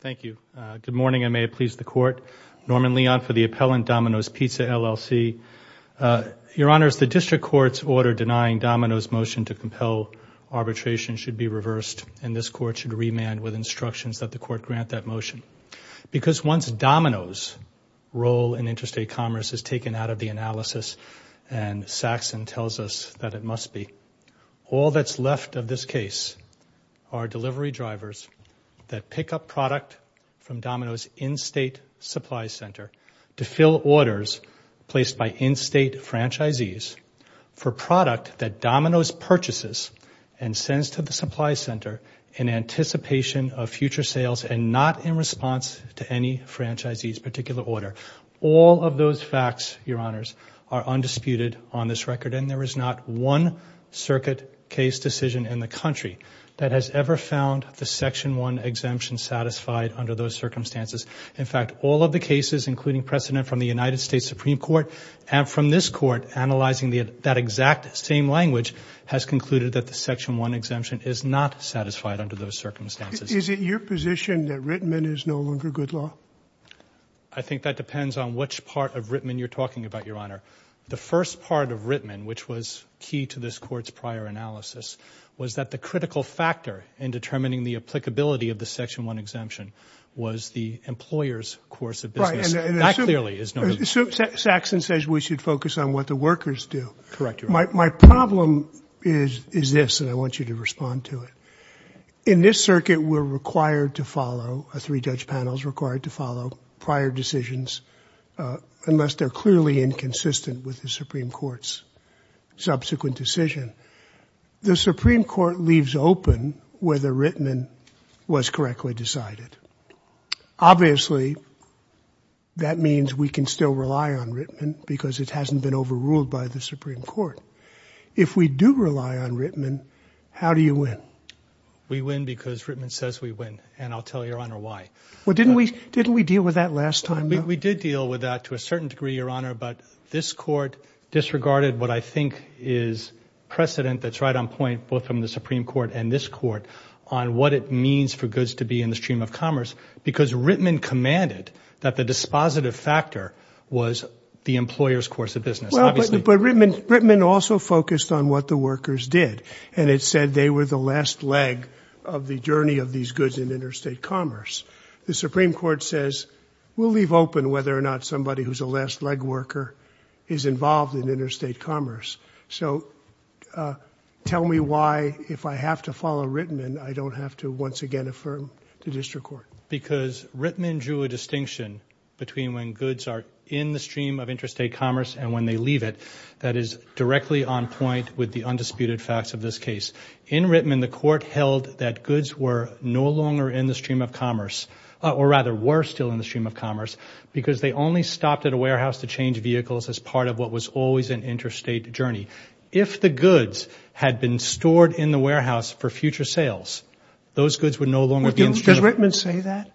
Thank you. Good morning and may it please the Court. Norman Leon for the appellant, Domino's Pizza, LLC. Your Honors, the District Court's order denying Domino's motion to compel arbitration should be reversed and this Court should remand with instructions that the Court grant that motion. Because once Domino's role in interstate commerce is taken out of the analysis and Saxon tells us that it must be, all that's left of this case are delivery drivers that pick up product from Domino's in-state supply center to fill orders placed by in-state franchisees for product that Domino's purchases and sends to the supply center in anticipation of future sales and not in response to any franchisee's particular order. All of those facts, Your Honors, are undisputed on this record and there is not one circuit case decision in the country that has ever found the Section 1 exemption satisfied under those circumstances. In fact, all of the cases including precedent from the United States Supreme Court and from this Court analyzing that exact same language has concluded that the Section 1 exemption is not satisfied under those circumstances. Is it your position that Rittman is no longer good law? I think that depends on which part of Rittman you're talking about, Your Honor. The first part of Rittman, which was key to this Court's prior analysis, was that the critical factor in determining the applicability of the Section 1 exemption was the employer's course of business. Right. And that clearly is no longer true. Saxon says we should focus on what the workers do. Correct, Your Honor. My problem is this and I want you to respond to it. In this circuit, we're required to follow, our three judge panels are required to follow prior decisions unless they're clearly inconsistent with the Supreme Court's subsequent decision. The Supreme Court leaves open whether Rittman was correctly decided. Obviously, that means we can still rely on Rittman because it hasn't been overruled by the Supreme Court. If we do rely on Rittman, how do you win? We win because Rittman says we win and I'll tell Your Honor why. Well, didn't we deal with that last time? We did deal with that to a certain degree, Your Honor, but this Court disregarded what I think is precedent that's right on point, both from the Supreme Court and this Court, on what it means for goods to be in the stream of commerce because Rittman commanded that the dispositive factor was the employer's course of business. Well, but Rittman also focused on what the workers did and it said they were the last leg of the journey of these goods in interstate commerce. The Supreme Court says, we'll leave open whether or not somebody who's a last leg worker is involved in interstate commerce. So tell me why, if I have to follow Rittman, I don't have to once again affirm the district court. Because Rittman drew a distinction between when goods are in the stream of interstate commerce and when they leave it. That is directly on point with the undisputed facts of this case. In Rittman, the Court held that goods were no longer in the stream of commerce, or rather were still in the stream of commerce, because they only stopped at a warehouse to change vehicles as part of what was always an interstate journey. If the goods had been stored in the warehouse for future sales, those goods would no longer be in the stream of commerce. Does Rittman say that?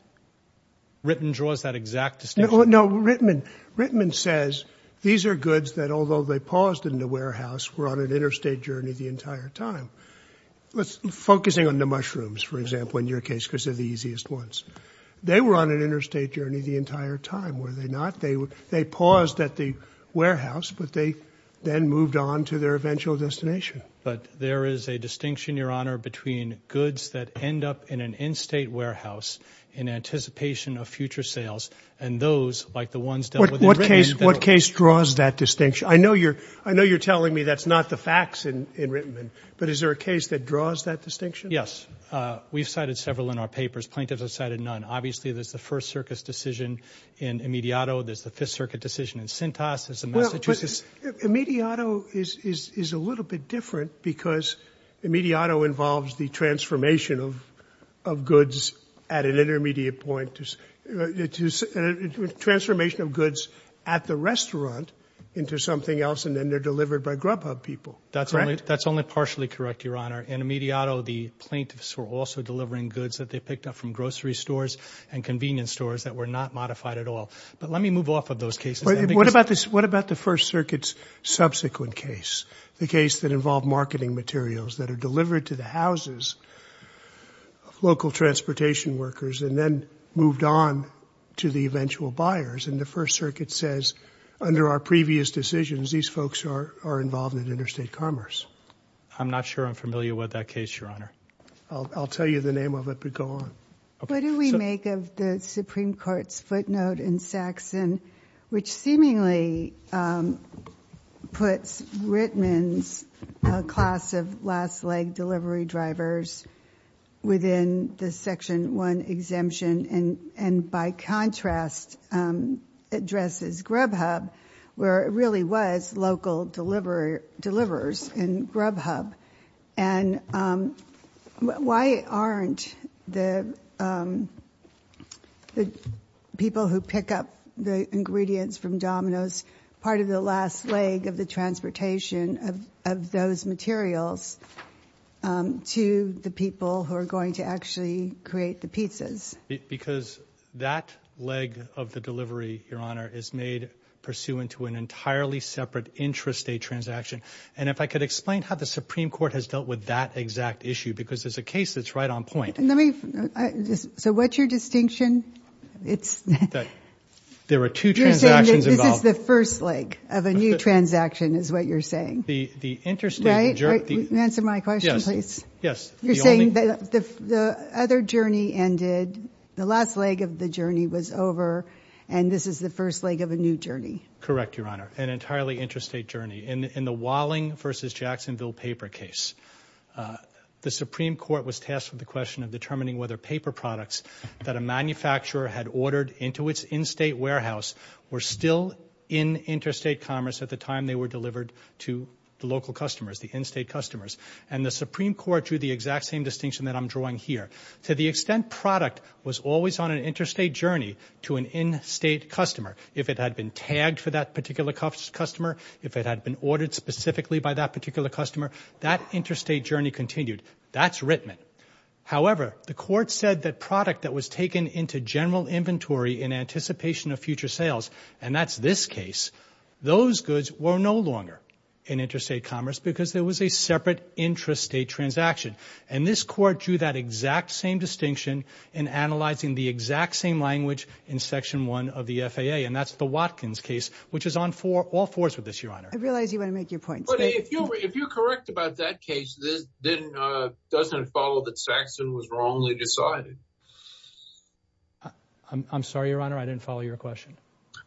Rittman draws that exact distinction. No, Rittman says these are goods that, although they paused in the warehouse, were on an interstate journey the entire time. Focusing on the mushrooms, for example, in your case, because they're the easiest ones. They were on an interstate journey the entire time, were they not? They paused at the warehouse, but they then moved on to their eventual destination. But there is a distinction, Your Honor, between goods that end up in an in-state warehouse in anticipation of future sales, and those, like the ones dealt with in Rittman. What case draws that distinction? I know you're telling me that's not the facts in Rittman, but is there a case that draws that distinction? Yes. We've cited several in our papers. Plaintiffs have cited none. Obviously, there's the First Circus decision in Imediato, there's the Fifth Circuit decision in Cintas, there's the Massachusetts. Imediato is a little bit different, because Imediato involves the transformation of goods at an intermediate point, transformation of goods at the restaurant into something else, and then they're delivered by Grubhub people, correct? That's only partially correct, Your Honor. In Imediato, the plaintiffs were also delivering goods that they picked up from grocery stores and convenience stores that were not modified at all. But let me move off of those cases. What about the First Circuit's subsequent case, the case that involved marketing materials that are delivered to the houses of local transportation workers, and then moved on to the eventual buyers, and the First Circuit says, under our previous decisions, these folks are involved in interstate commerce? I'm not sure I'm familiar with that case, Your Honor. I'll tell you the name of it, but go on. What do we make of the Supreme Court's footnote in Saxon, which seemingly puts Rittman's class of last leg delivery drivers within the Section 1 exemption, and by contrast, addresses Grubhub, where it really was local deliverers in Grubhub? And why aren't the people who pick up the ingredients from Domino's part of the last of those materials to the people who are going to actually create the pizzas? Because that leg of the delivery, Your Honor, is made pursuant to an entirely separate intrastate transaction. And if I could explain how the Supreme Court has dealt with that exact issue, because there's a case that's right on point. So what's your distinction? There were two transactions involved. This is the first leg of a new transaction, is what you're saying? The interstate... Right? Answer my question, please. Yes. Yes. You're saying that the other journey ended, the last leg of the journey was over, and this is the first leg of a new journey? Correct, Your Honor. An entirely interstate journey. In the Walling v. Jacksonville paper case, the Supreme Court was tasked with the question of determining whether paper products that a manufacturer had ordered into its in-state warehouse were still in interstate commerce at the time they were delivered to the local customers, the in-state customers. And the Supreme Court drew the exact same distinction that I'm drawing here. To the extent product was always on an interstate journey to an in-state customer, if it had been tagged for that particular customer, if it had been ordered specifically by that particular customer, that interstate journey continued. That's Rittman. However, the Court said that product that was taken into general inventory in anticipation of future sales, and that's this case, those goods were no longer in interstate commerce because there was a separate intrastate transaction. And this Court drew that exact same distinction in analyzing the exact same language in Section 1 of the FAA, and that's the Watkins case, which is on all fours with this, Your Honor. I realize you want to make your point, but if you're correct about that case, then doesn't it follow that Saxon was wrongly decided? I'm sorry, Your Honor, I didn't follow your question.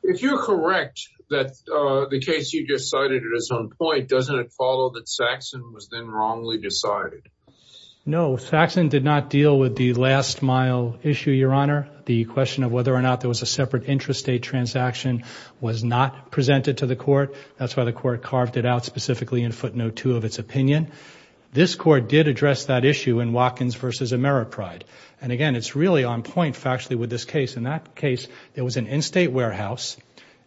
If you're correct that the case you just cited is on point, doesn't it follow that Saxon was then wrongly decided? No, Saxon did not deal with the last mile issue, Your Honor. The question of whether or not there was a separate intrastate transaction was not presented to the Court. That's why the Court carved it out specifically in footnote 2 of its opinion. This Court did address that issue in Watkins v. Ameripride. It's really on point factually with this case. In that case, there was an in-state warehouse,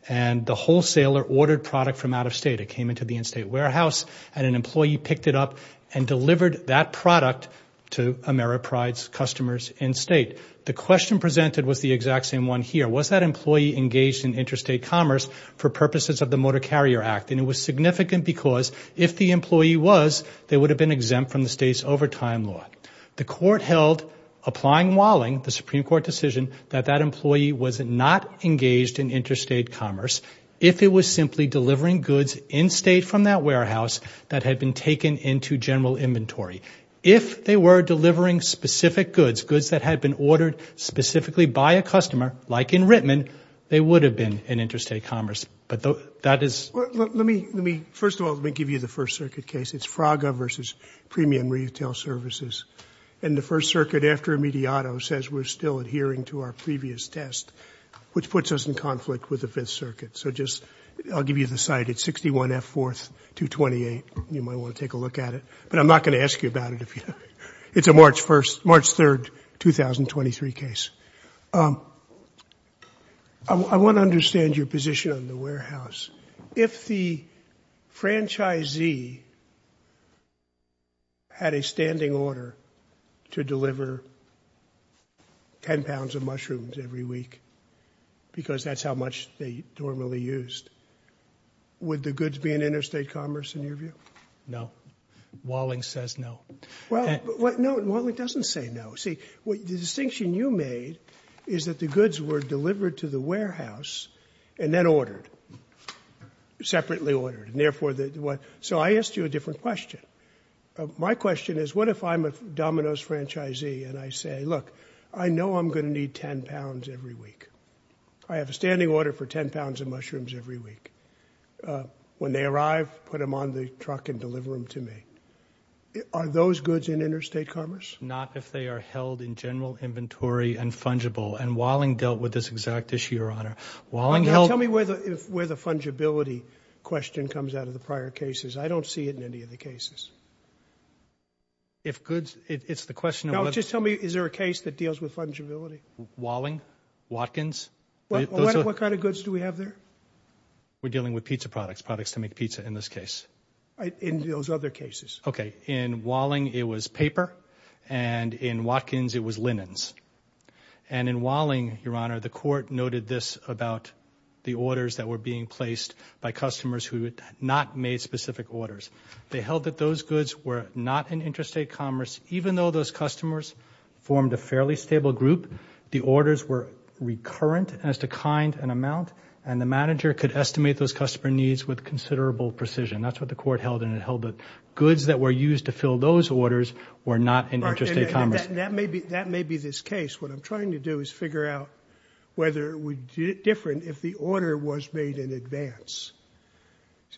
and the wholesaler ordered product from out of state. It came into the in-state warehouse, and an employee picked it up and delivered that product to Ameripride's customers in-state. The question presented was the exact same one here. Was that employee engaged in intrastate commerce for purposes of the Motor Carrier Act? And it was significant because if the employee was, they would have been exempt from the state's overtime law. The Court held, applying Walling, the Supreme Court decision, that that employee was not engaged in intrastate commerce if it was simply delivering goods in-state from that warehouse that had been taken into general inventory. If they were delivering specific goods, goods that had been ordered specifically by a customer, like in Rittman, they would have been in intrastate commerce. But that is... Let me, first of all, let me give you the First Circuit case. It's Fraga versus Premium Retail Services. And the First Circuit, after a mediato, says we're still adhering to our previous test, which puts us in conflict with the Fifth Circuit. So just, I'll give you the site. It's 61 F. 4th, 228. You might want to take a look at it, but I'm not going to ask you about it if you don't. It's a March 1st, March 3rd, 2023 case. I want to understand your position on the warehouse. If the franchisee had a standing order to deliver 10 pounds of mushrooms every week, because that's how much they normally used, would the goods be in intrastate commerce in your view? No. Walling says no. Well, no, Walling doesn't say no. See, the distinction you made is that the goods were delivered to the warehouse and then ordered, separately ordered. So I asked you a different question. My question is, what if I'm a Domino's franchisee and I say, look, I know I'm going to need 10 pounds every week. I have a standing order for 10 pounds of mushrooms every week. When they arrive, put them on the truck and deliver them to me. Are those goods in interstate commerce? Not if they are held in general inventory and fungible. And Walling dealt with this exact issue, Your Honor. Now tell me where the fungibility question comes out of the prior cases. I don't see it in any of the cases. If goods, it's the question of whether... Now just tell me, is there a case that deals with fungibility? Walling, Watkins. What kind of goods do we have there? We're dealing with pizza products, products to make pizza in this case. In those other cases. Okay. In Walling, it was paper. And in Watkins, it was linens. And in Walling, Your Honor, the court noted this about the orders that were being placed by customers who had not made specific orders. They held that those goods were not in interstate commerce, even though those customers formed a fairly stable group. The orders were recurrent as to kind and amount. And the manager could estimate those customer needs with considerable precision. That's what the court held. And it held that goods that were used to fill those orders were not in interstate commerce. That may be this case. What I'm trying to do is figure out whether it would be different if the order was made in advance.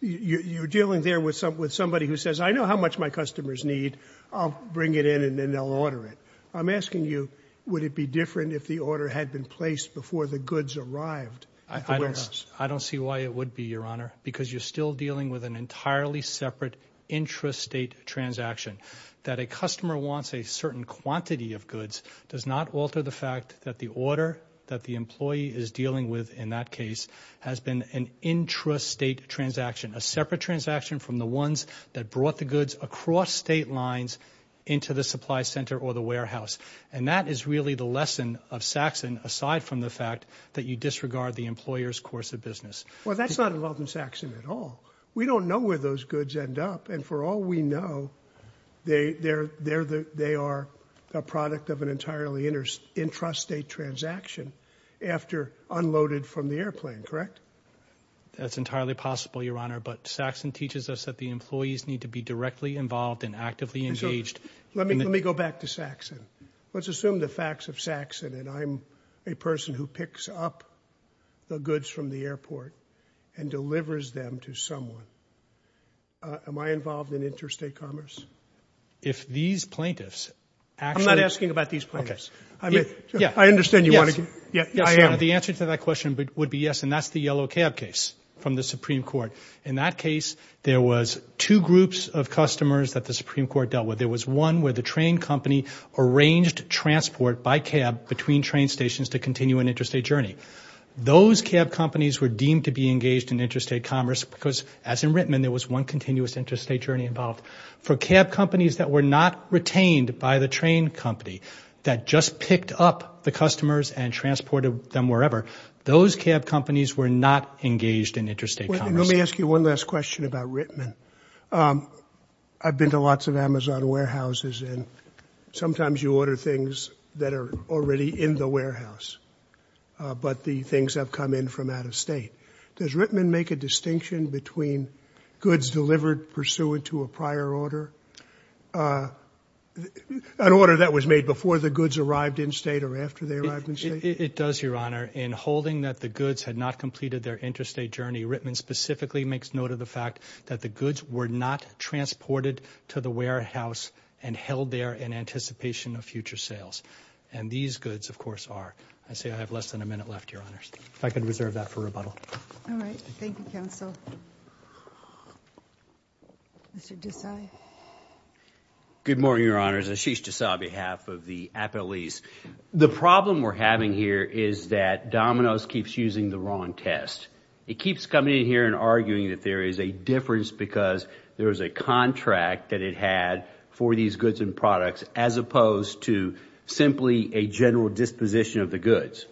You're dealing there with somebody who says, I know how much my customers need. I'll bring it in and then they'll order it. I'm asking you, would it be different if the order had been placed before the goods arrived at the warehouse? I don't see why it would be, Your Honor, because you're still dealing with an entirely separate intrastate transaction. That a customer wants a certain quantity of goods does not alter the fact that the order that the employee is dealing with in that case has been an intrastate transaction, a separate transaction from the ones that brought the goods across state lines into the supply center or the warehouse. And that is really the lesson of Saxon, aside from the fact that you disregard the employer's course of business. Well, that's not involved in Saxon at all. We don't know where those goods end up. And for all we know, they are a product of an entirely intrastate transaction after unloaded from the airplane, correct? That's entirely possible, Your Honor. But Saxon teaches us that the employees need to be directly involved and actively engaged. Let me go back to Saxon. Let's assume the facts of Saxon and I'm a person who picks up the goods from the airport and delivers them to someone. Am I involved in intrastate commerce? If these plaintiffs actually... I'm not asking about these plaintiffs. I mean, I understand you want to... Yes, the answer to that question would be yes, and that's the Yellow Cab case from the Supreme Court. In that case, there was two groups of customers that the Supreme Court dealt with. There was one where the train company arranged transport by cab between train stations to continue an intrastate journey. Those cab companies were deemed to be engaged in intrastate commerce because, as in Rittman, there was one continuous intrastate journey involved. For cab companies that were not retained by the train company, that just picked up the customers and transported them wherever, those cab companies were not engaged in intrastate commerce. Let me ask you one last question about Rittman. I've been to lots of Amazon warehouses and sometimes you order things that are already in the warehouse, but the things have come in from out of state. Does Rittman make a distinction between goods delivered pursuant to a prior order, an order that was made before the goods arrived in state or after they arrived in state? It does, Your Honour. In holding that the goods had not completed their intrastate journey, Rittman specifically makes note of the fact that the goods were not transported to the warehouse and held there in anticipation of future sales. And these goods, of course, are. I see I have less than a minute left, Your Honours. If I could reserve that for rebuttal. All right. Thank you, counsel. Mr. Desai. Good morning, Your Honours. Ashish Desai on behalf of the Appellees. The problem we're having here is that Domino's keeps using the wrong test. It keeps coming in here and arguing that there is a difference because there is a contract that it had for these goods and products as opposed to simply a general disposition of the goods.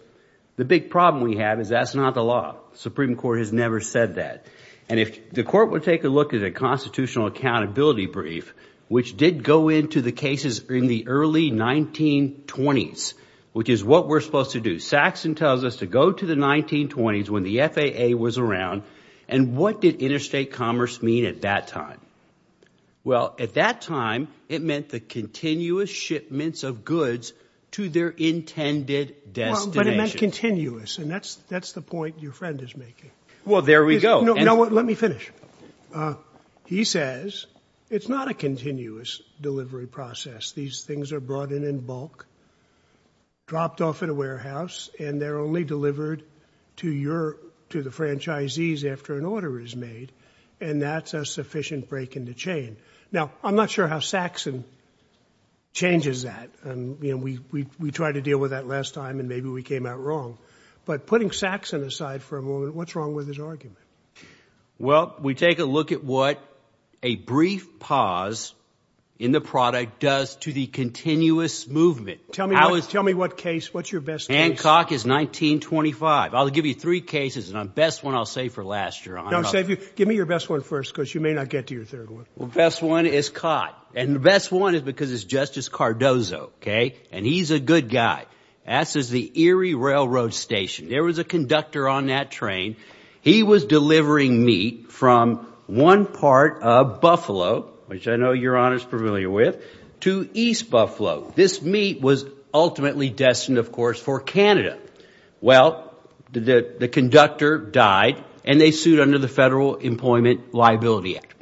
The big problem we have is that's not the law. Supreme Court has never said that. And if the court would take a look at a constitutional accountability brief, which did go into the cases in the early 1920s, which is what we're supposed to do. Saxon tells us to go to the 1920s when the FAA was around. And what did interstate commerce mean at that time? Well, at that time, it meant the continuous shipments of goods to their intended destination. But it meant continuous. And that's the point your friend is making. Well, there we go. No, let me finish. He says it's not a continuous delivery process. These things are brought in in bulk, dropped off at a warehouse, and they're only delivered to the franchisees after an order is made, and that's a sufficient break in the chain. Now, I'm not sure how Saxon changes that. And we tried to deal with that last time, and maybe we came out wrong. But putting Saxon aside for a moment, what's wrong with his argument? Well, we take a look at what a brief pause in the product does to the continuous movement. Tell me what case, what's your best case? Hancock is 1925. I'll give you three cases, and the best one I'll say for last year. No, give me your best one first, because you may not get to your third one. Well, the best one is Cott. And the best one is because it's Justice Cardozo, OK? And he's a good guy. That's at the Erie Railroad Station. There was a conductor on that train. He was delivering meat from one part of Buffalo, which I know Your Honor is familiar with, to East Buffalo. This meat was ultimately destined, of course, for Canada. Well, the conductor died, and they sued under the Federal Employment Liability Act.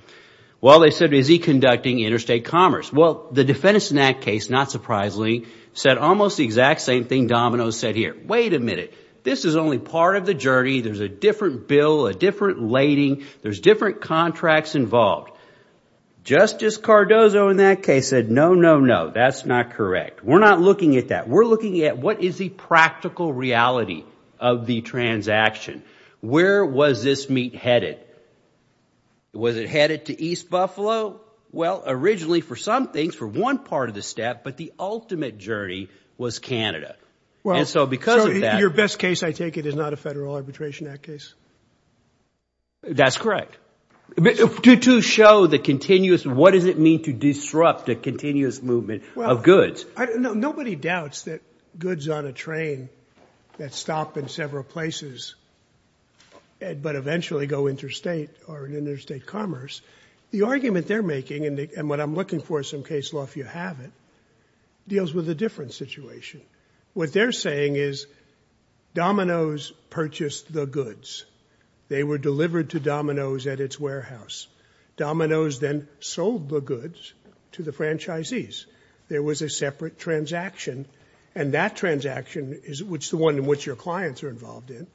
Well, they said, is he conducting interstate commerce? Well, the defendants in that case, not surprisingly, said almost the exact same thing Domino said here. Wait a minute. This is only part of the journey. There's a different bill, a different lading. There's different contracts involved. Justice Cardozo in that case said, no, no, no. That's not correct. We're not looking at that. We're looking at what is the practical reality of the transaction. Where was this meat headed? Was it headed to East Buffalo? Well, originally for some things, for one part of the step, but the ultimate journey was Canada. And so because of that- Your best case, I take it, is not a Federal Arbitration Act case. That's correct. To show the continuous, what does it mean to disrupt a continuous movement of goods? Nobody doubts that goods on a train that stop in several places but eventually go interstate or in interstate commerce, the argument they're making, and what I'm looking for is some case law if you have it, deals with a different situation. What they're saying is Domino's purchased the goods. They were delivered to Domino's at its warehouse. Domino's then sold the goods to the franchisees. There was a separate transaction, and that transaction is the one in which your clients are involved in.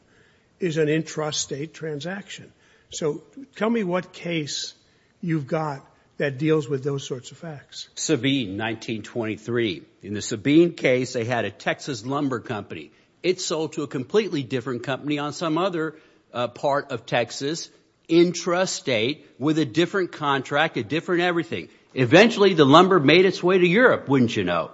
It's an intrastate transaction. So tell me what case you've got that deals with those sorts of facts. Sabine, 1923. In the Sabine case, they had a Texas lumber company. It sold to a completely different company on some other part of Texas, intrastate, with a different contract, a different everything. Eventually, the lumber made its way to Europe, wouldn't you know?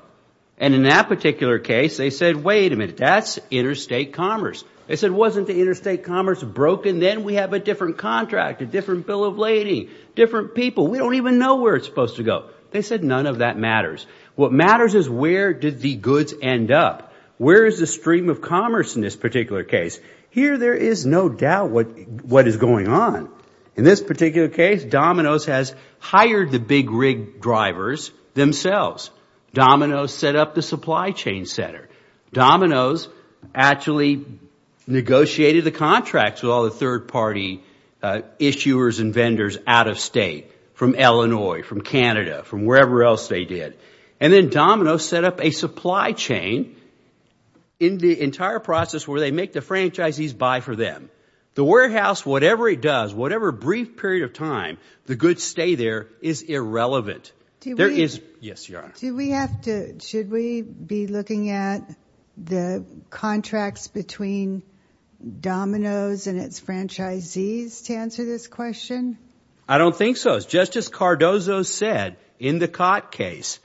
And in that particular case, they said, wait a minute, that's interstate commerce. They said, wasn't the interstate commerce broken? Then we have a different contract, a different bill of lading, different people, we don't even know where it's supposed to go. They said, none of that matters. What matters is where did the goods end up? Where is the stream of commerce in this particular case? Here, there is no doubt what is going on. In this particular case, Domino's has hired the big rig drivers themselves. Domino's set up the supply chain center. Domino's actually negotiated the contracts with all the third party issuers and vendors out of state, from Illinois, from Canada, from wherever else they did. And then Domino's set up a supply chain in the entire process where they make the franchisees buy for them. The warehouse, whatever it does, whatever brief period of time, the goods stay there, is irrelevant. There is, yes, Your Honor. Do we have to, should we be looking at the contracts between Domino's and its franchisees to answer this question? I don't think so. As Justice Cardozo said in the Cott case,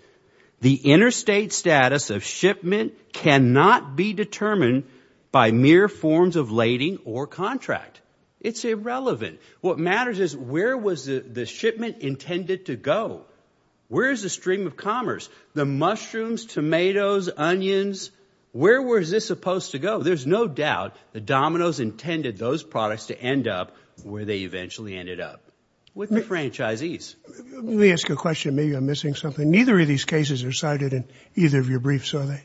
the interstate status of shipment cannot be determined by mere forms of lading or contract. It's irrelevant. What matters is where was the shipment intended to go? Where is the stream of commerce? The mushrooms, tomatoes, onions, where was this supposed to go? There's no doubt that Domino's intended those products to end up where they eventually ended up, with the franchisees. Let me ask you a question. Maybe I'm missing something. Neither of these cases are cited in either of your briefs, are they?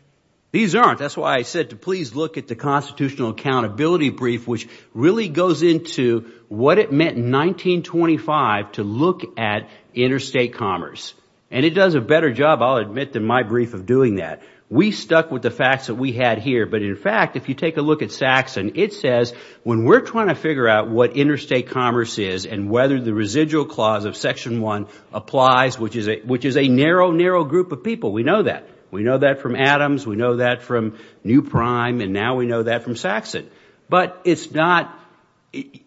These aren't. That's why I said to please look at the constitutional accountability brief, which really goes into what it meant in 1925 to look at interstate commerce. And it does a better job, I'll admit, than my brief of doing that. We stuck with the facts that we had here. But in fact, if you take a look at Saxon, it says when we're trying to figure out what interstate commerce is and whether the residual clause of Section 1 applies, which is a narrow, narrow group of people, we know that. We know that from Adams. We know that from New Prime. And now we know that from Saxon. But it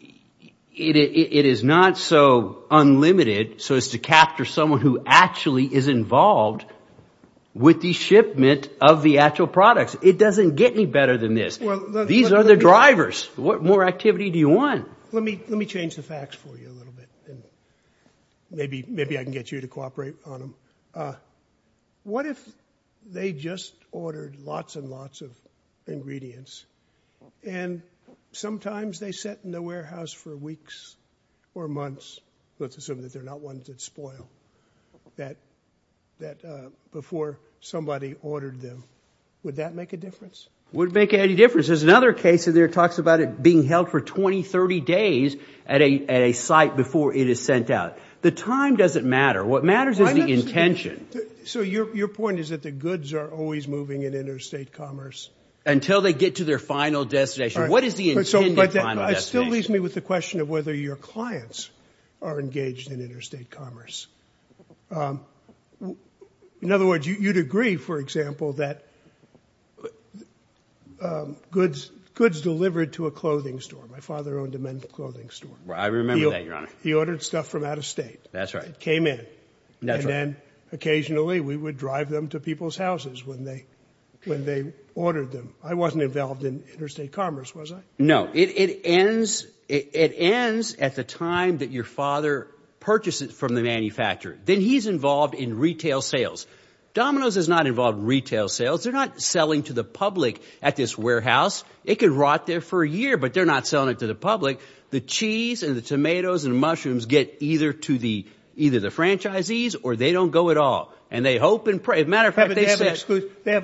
is not so unlimited so as to capture someone who actually is involved with the shipment of the actual products. It doesn't get any better than this. These are the drivers. What more activity do you want? Let me change the facts for you a little bit. Maybe I can get you to cooperate on them. What if they just ordered lots and lots of ingredients and sometimes they sit in the warehouse for weeks or months, let's assume that they're not ones that spoil, that before somebody ordered them, would that make a difference? Wouldn't make any difference. There's another case in there that talks about it being held for 20, 30 days at a site before it is sent out. The time doesn't matter. What matters is the intention. So your point is that the goods are always moving in interstate commerce? Until they get to their final destination. What is the intended final destination? It still leaves me with the question of whether your clients are engaged in interstate commerce. In other words, you'd agree, for example, that goods delivered to a clothing store. My father owned a men's clothing store. I remember that, Your Honor. He ordered stuff from out of state. That's right. It came in. And then occasionally we would drive them to people's houses when they ordered them. I wasn't involved in interstate commerce, was I? No. It ends at the time that your father purchased it from the manufacturer. Then he's involved in retail sales. Domino's is not involved in retail sales. They're not selling to the public at this warehouse. It could rot there for a year, but they're not selling it to the public. The cheese and the tomatoes and mushrooms get either to the franchisees, or they don't go at all. And they hope and pray. They have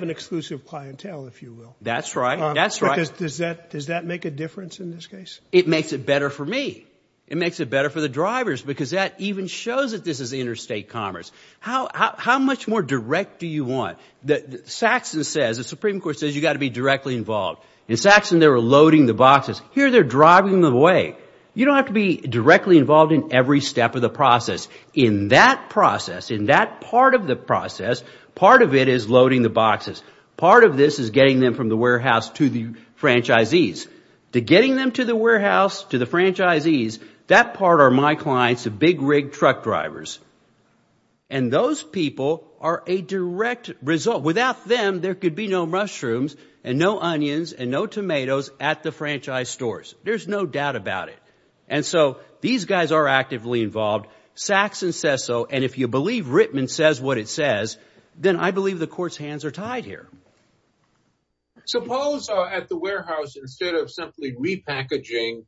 an exclusive clientele, if you will. That's right. That's right. Does that make a difference in this case? It makes it better for me. It makes it better for the drivers, because that even shows that this is interstate commerce. How much more direct do you want? Saxon says, the Supreme Court says, you've got to be directly involved. In Saxon, they were loading the boxes. Here, they're driving them away. You don't have to be directly involved in every step of the process. In that process, in that part of the process, part of it is loading the boxes. Part of this is getting them from the warehouse to the franchisees. The getting them to the warehouse to the franchisees, that part are my clients, the big rig truck drivers. And those people are a direct result. Without them, there could be no mushrooms and no onions and no tomatoes at the franchise stores. There's no doubt about it. And so these guys are actively involved. Saxon says so. And if you believe Rittman says what it says, then I believe the court's hands are tied here. Suppose at the warehouse, instead of simply repackaging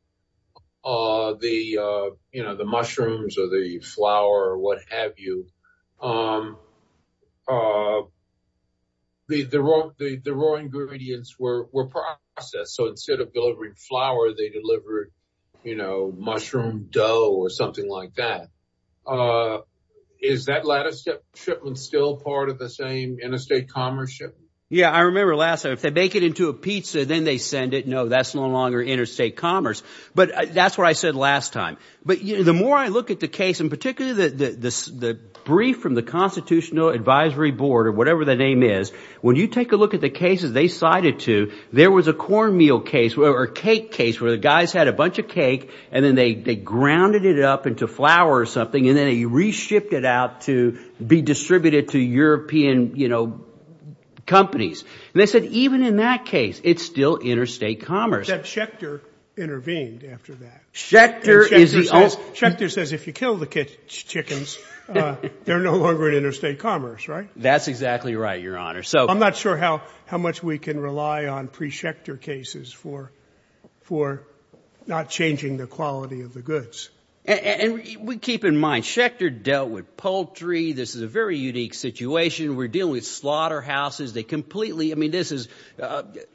the, you know, the mushrooms or the flour or what have you, the raw ingredients were processed. So instead of delivering flour, they delivered, you know, mushroom dough or something like that. Uh, is that lattice shipment still part of the same interstate commerce ship? Yeah, I remember last time if they make it into a pizza, then they send it. No, that's no longer interstate commerce. But that's what I said last time. But the more I look at the case in particular, the brief from the constitutional advisory board or whatever the name is, when you take a look at the cases they cited to, there was a cornmeal case or cake case where the guys had a flour or something and then he reshipped it out to be distributed to European, you know, companies. And they said, even in that case, it's still interstate commerce. That Schechter intervened after that. Schechter is the only, Schechter says, if you kill the chickens, they're no longer in interstate commerce, right? That's exactly right, your honor. So I'm not sure how, how much we can rely on pre-Schecter cases for, for not changing the quality of the goods. And we keep in mind, Schechter dealt with poultry. This is a very unique situation. We're dealing with slaughterhouses. They completely, I mean, this is,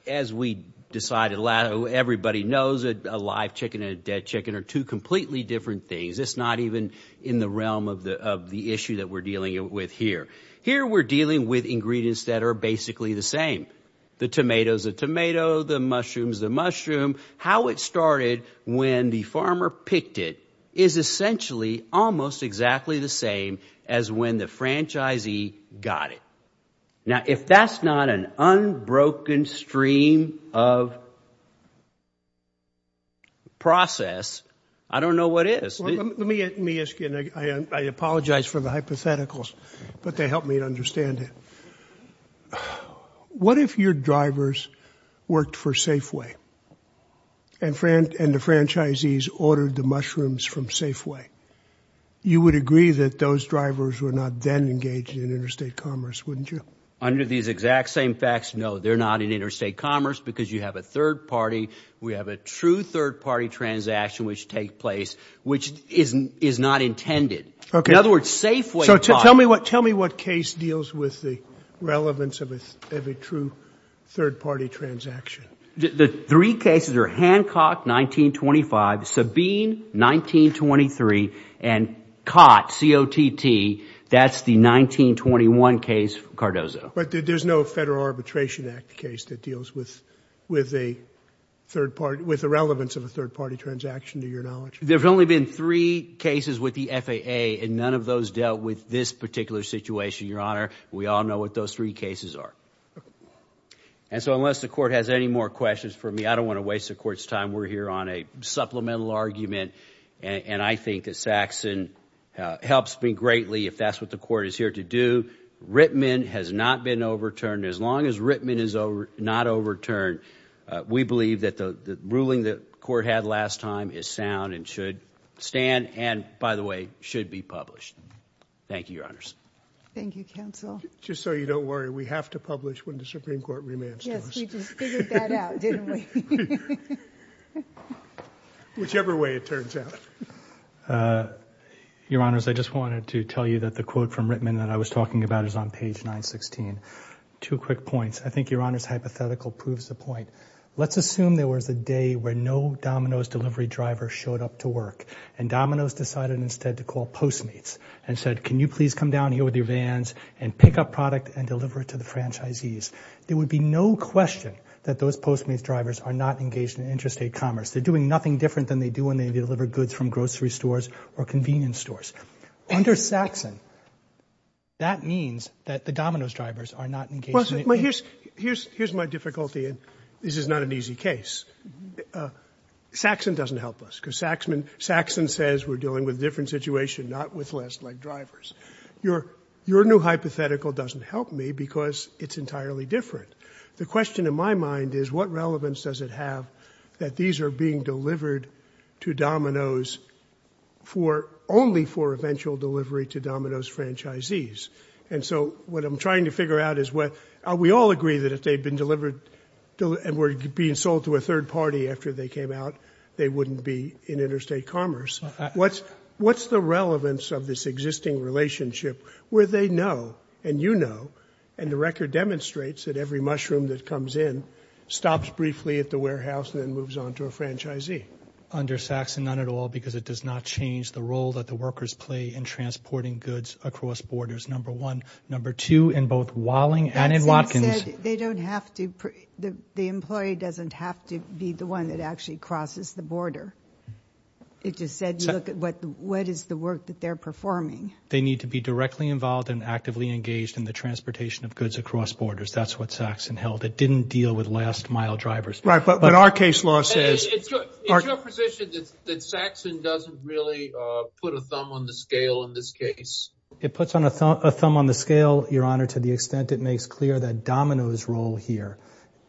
as we decided, everybody knows that a live chicken and a dead chicken are two completely different things. It's not even in the realm of the of the issue that we're dealing with here. Here we're dealing with ingredients that are basically the same. The tomatoes, the tomato, the mushrooms, the mushroom, how it started when the is essentially almost exactly the same as when the franchisee got it. Now, if that's not an unbroken stream of process, I don't know what is. Let me, let me ask you, and I apologize for the hypotheticals, but they helped me to understand it. What if your drivers worked for Safeway? And the franchisees ordered the mushrooms from Safeway. You would agree that those drivers were not then engaged in interstate commerce, wouldn't you? Under these exact same facts, no, they're not in interstate commerce because you have a third party. We have a true third party transaction, which take place, which isn't, is not intended, in other words, Safeway. So tell me what, tell me what case deals with the relevance of a true third party transaction. The three cases are Hancock 1925, Sabine 1923, and COTT, C-O-T-T, that's the 1921 case, Cardozo. But there's no Federal Arbitration Act case that deals with, with a third party, with the relevance of a third party transaction to your knowledge. There've only been three cases with the FAA and none of those dealt with this particular situation, Your Honor. We all know what those three cases are. Okay. And so unless the court has any more questions for me, I don't want to waste the court's time. We're here on a supplemental argument. And I think that Saxon helps me greatly if that's what the court is here to do. Rittman has not been overturned. As long as Rittman is over, not overturned, we believe that the ruling that the court had last time is sound and should stand and by the way, should be published. Thank you, Your Honors. Thank you, counsel. Just so you don't worry, we have to publish when the Supreme Court remands to us. Yes, we just figured that out, didn't we? Whichever way it turns out. Uh, Your Honors, I just wanted to tell you that the quote from Rittman that I was talking about is on page 916. Two quick points. I think Your Honor's hypothetical proves the point. Let's assume there was a day where no Domino's delivery driver showed up to work. And Domino's decided instead to call Postmates and said, can you please come down here with your vans and pick up product and deliver it to the franchisees? There would be no question that those Postmates drivers are not engaged in interstate commerce. They're doing nothing different than they do when they deliver goods from grocery stores or convenience stores. Under Saxon, that means that the Domino's drivers are not engaged in interstate commerce. Well, here's my difficulty. And this is not an easy case. Saxon doesn't help us because Saxon says we're dealing with a different situation, not with last leg drivers. Your new hypothetical doesn't help me because it's entirely different. The question in my mind is what relevance does it have that these are being delivered to Domino's only for eventual delivery to Domino's franchisees? And so what I'm trying to figure out is what, we all agree that if they'd been delivered and were being sold to a third party after they came out, they wouldn't be in interstate commerce. What's the relevance of this existing relationship where they know and you know, and the record demonstrates that every mushroom that comes in, stops briefly at the warehouse and then moves on to a franchisee? Under Saxon, none at all, because it does not change the role that the workers play in transporting goods across borders, number one. Number two, in both Walling and in Watkins. They don't have to, the employee doesn't have to be the one that actually crosses the border. It just said, look at what, what is the work that they're performing? They need to be directly involved and actively engaged in the transportation of goods across borders. That's what Saxon held. It didn't deal with last mile drivers. Right. But, but our case law says, it's your position that, that Saxon doesn't really, uh, put a thumb on the scale in this case. It puts on a thumb, a thumb on the scale, your honor, to the extent it makes clear that Domino's role here,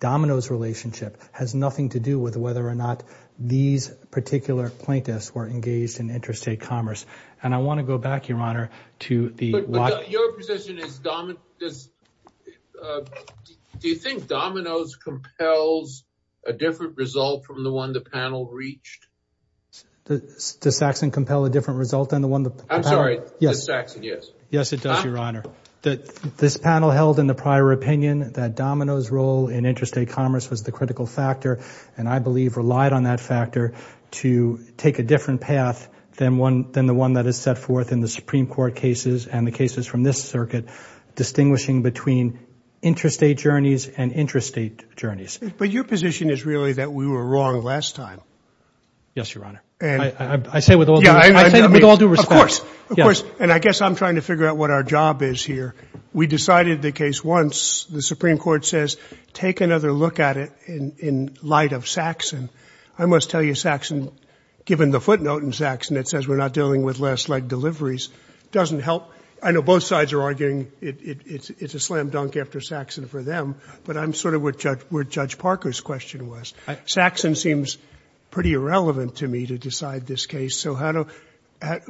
Domino's relationship has nothing to do with whether or not these particular plaintiffs were engaged in interstate commerce, and I want to go back, your honor, to the, your position is dominant. Does, uh, do you think Domino's compels a different result from the one the panel reached? Does Saxon compel a different result than the one that, I'm sorry. Yes. Saxon. Yes. Yes, it does. Your honor, that this panel held in the prior opinion that Domino's role in interstate commerce was the critical factor. And I believe relied on that factor to take a different path than one, than the one that is set forth in the Supreme court cases and the cases from this circuit, distinguishing between interstate journeys and interstate journeys. But your position is really that we were wrong last time. Yes, your honor. And I say with all due respect. Of course, of course. And I guess I'm trying to figure out what our job is here. We decided the case once the Supreme court says, take another look at it in, in light of Saxon, I must tell you, Saxon, given the footnote in Saxon that says we're not dealing with last leg deliveries doesn't help. I know both sides are arguing it's a slam dunk after Saxon for them, but I'm sort of what judge, where judge Parker's question was, Saxon seems pretty irrelevant to me to decide this case. So how do I,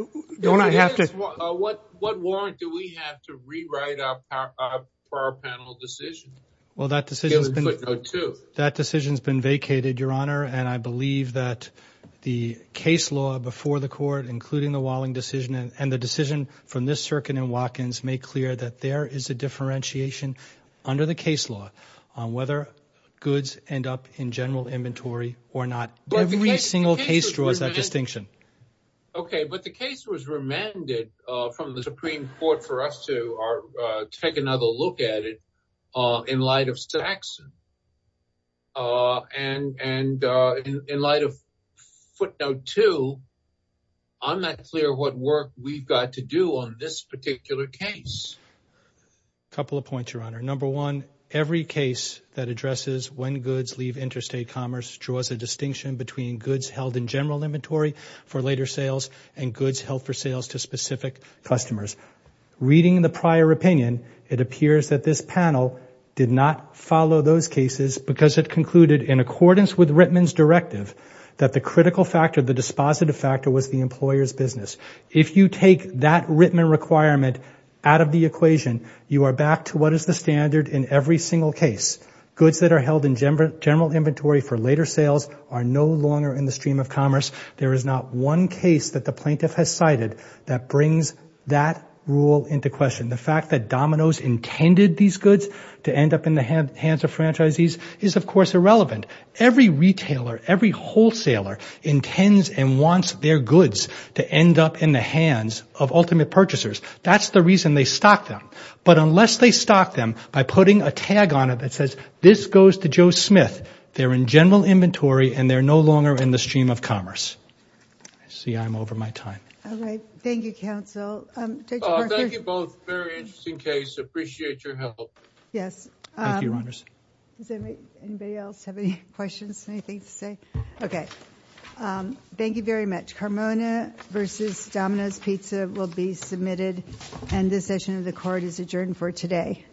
don't I have to, what, what warrant do we have to rewrite our power panel decision? Well, that decision has been, that decision has been vacated your honor. And I believe that the case law before the court, including the Walling decision and the decision from this circuit in Watkins make clear that there is a differentiation under the case law on whether goods end up in general inventory or not, every single case draws that distinction. Okay. But the case was remanded from the Supreme court for us to take another look at it. In light of Saxon and, and in light of footnote two, I'm not clear what work we've got to do on this particular case. Couple of points, your honor. Number one, every case that addresses when goods leave interstate commerce draws a distinction between goods held in general inventory for later sales and goods held for sales to specific customers. Reading the prior opinion, it appears that this panel did not follow those cases because it concluded in accordance with Rittman's directive, that the critical factor, the dispositive factor was the employer's business. If you take that Rittman requirement out of the equation, you are back to what is the standard in every single case. Goods that are held in general inventory for later sales are no longer in the stream of commerce. There is not one case that the plaintiff has cited that brings that rule into question. The fact that Domino's intended these goods to end up in the hands of franchisees is of course irrelevant. Every retailer, every wholesaler intends and wants their goods to end up in the hands of ultimate purchasers. That's the reason they stock them. But unless they stock them by putting a tag on it that says, this goes to Joe Smith, they're in general inventory and they're no longer in the stream of commerce. I see I'm over my time. All right. Thank you, counsel. Judge Barker. Thank you both. Very interesting case. Appreciate your help. Yes. Thank you, Your Honors. Does anybody else have any questions, anything to say? Okay. Thank you very much. Carmona versus Domino's Pizza will be submitted and this session of the court is adjourned for today.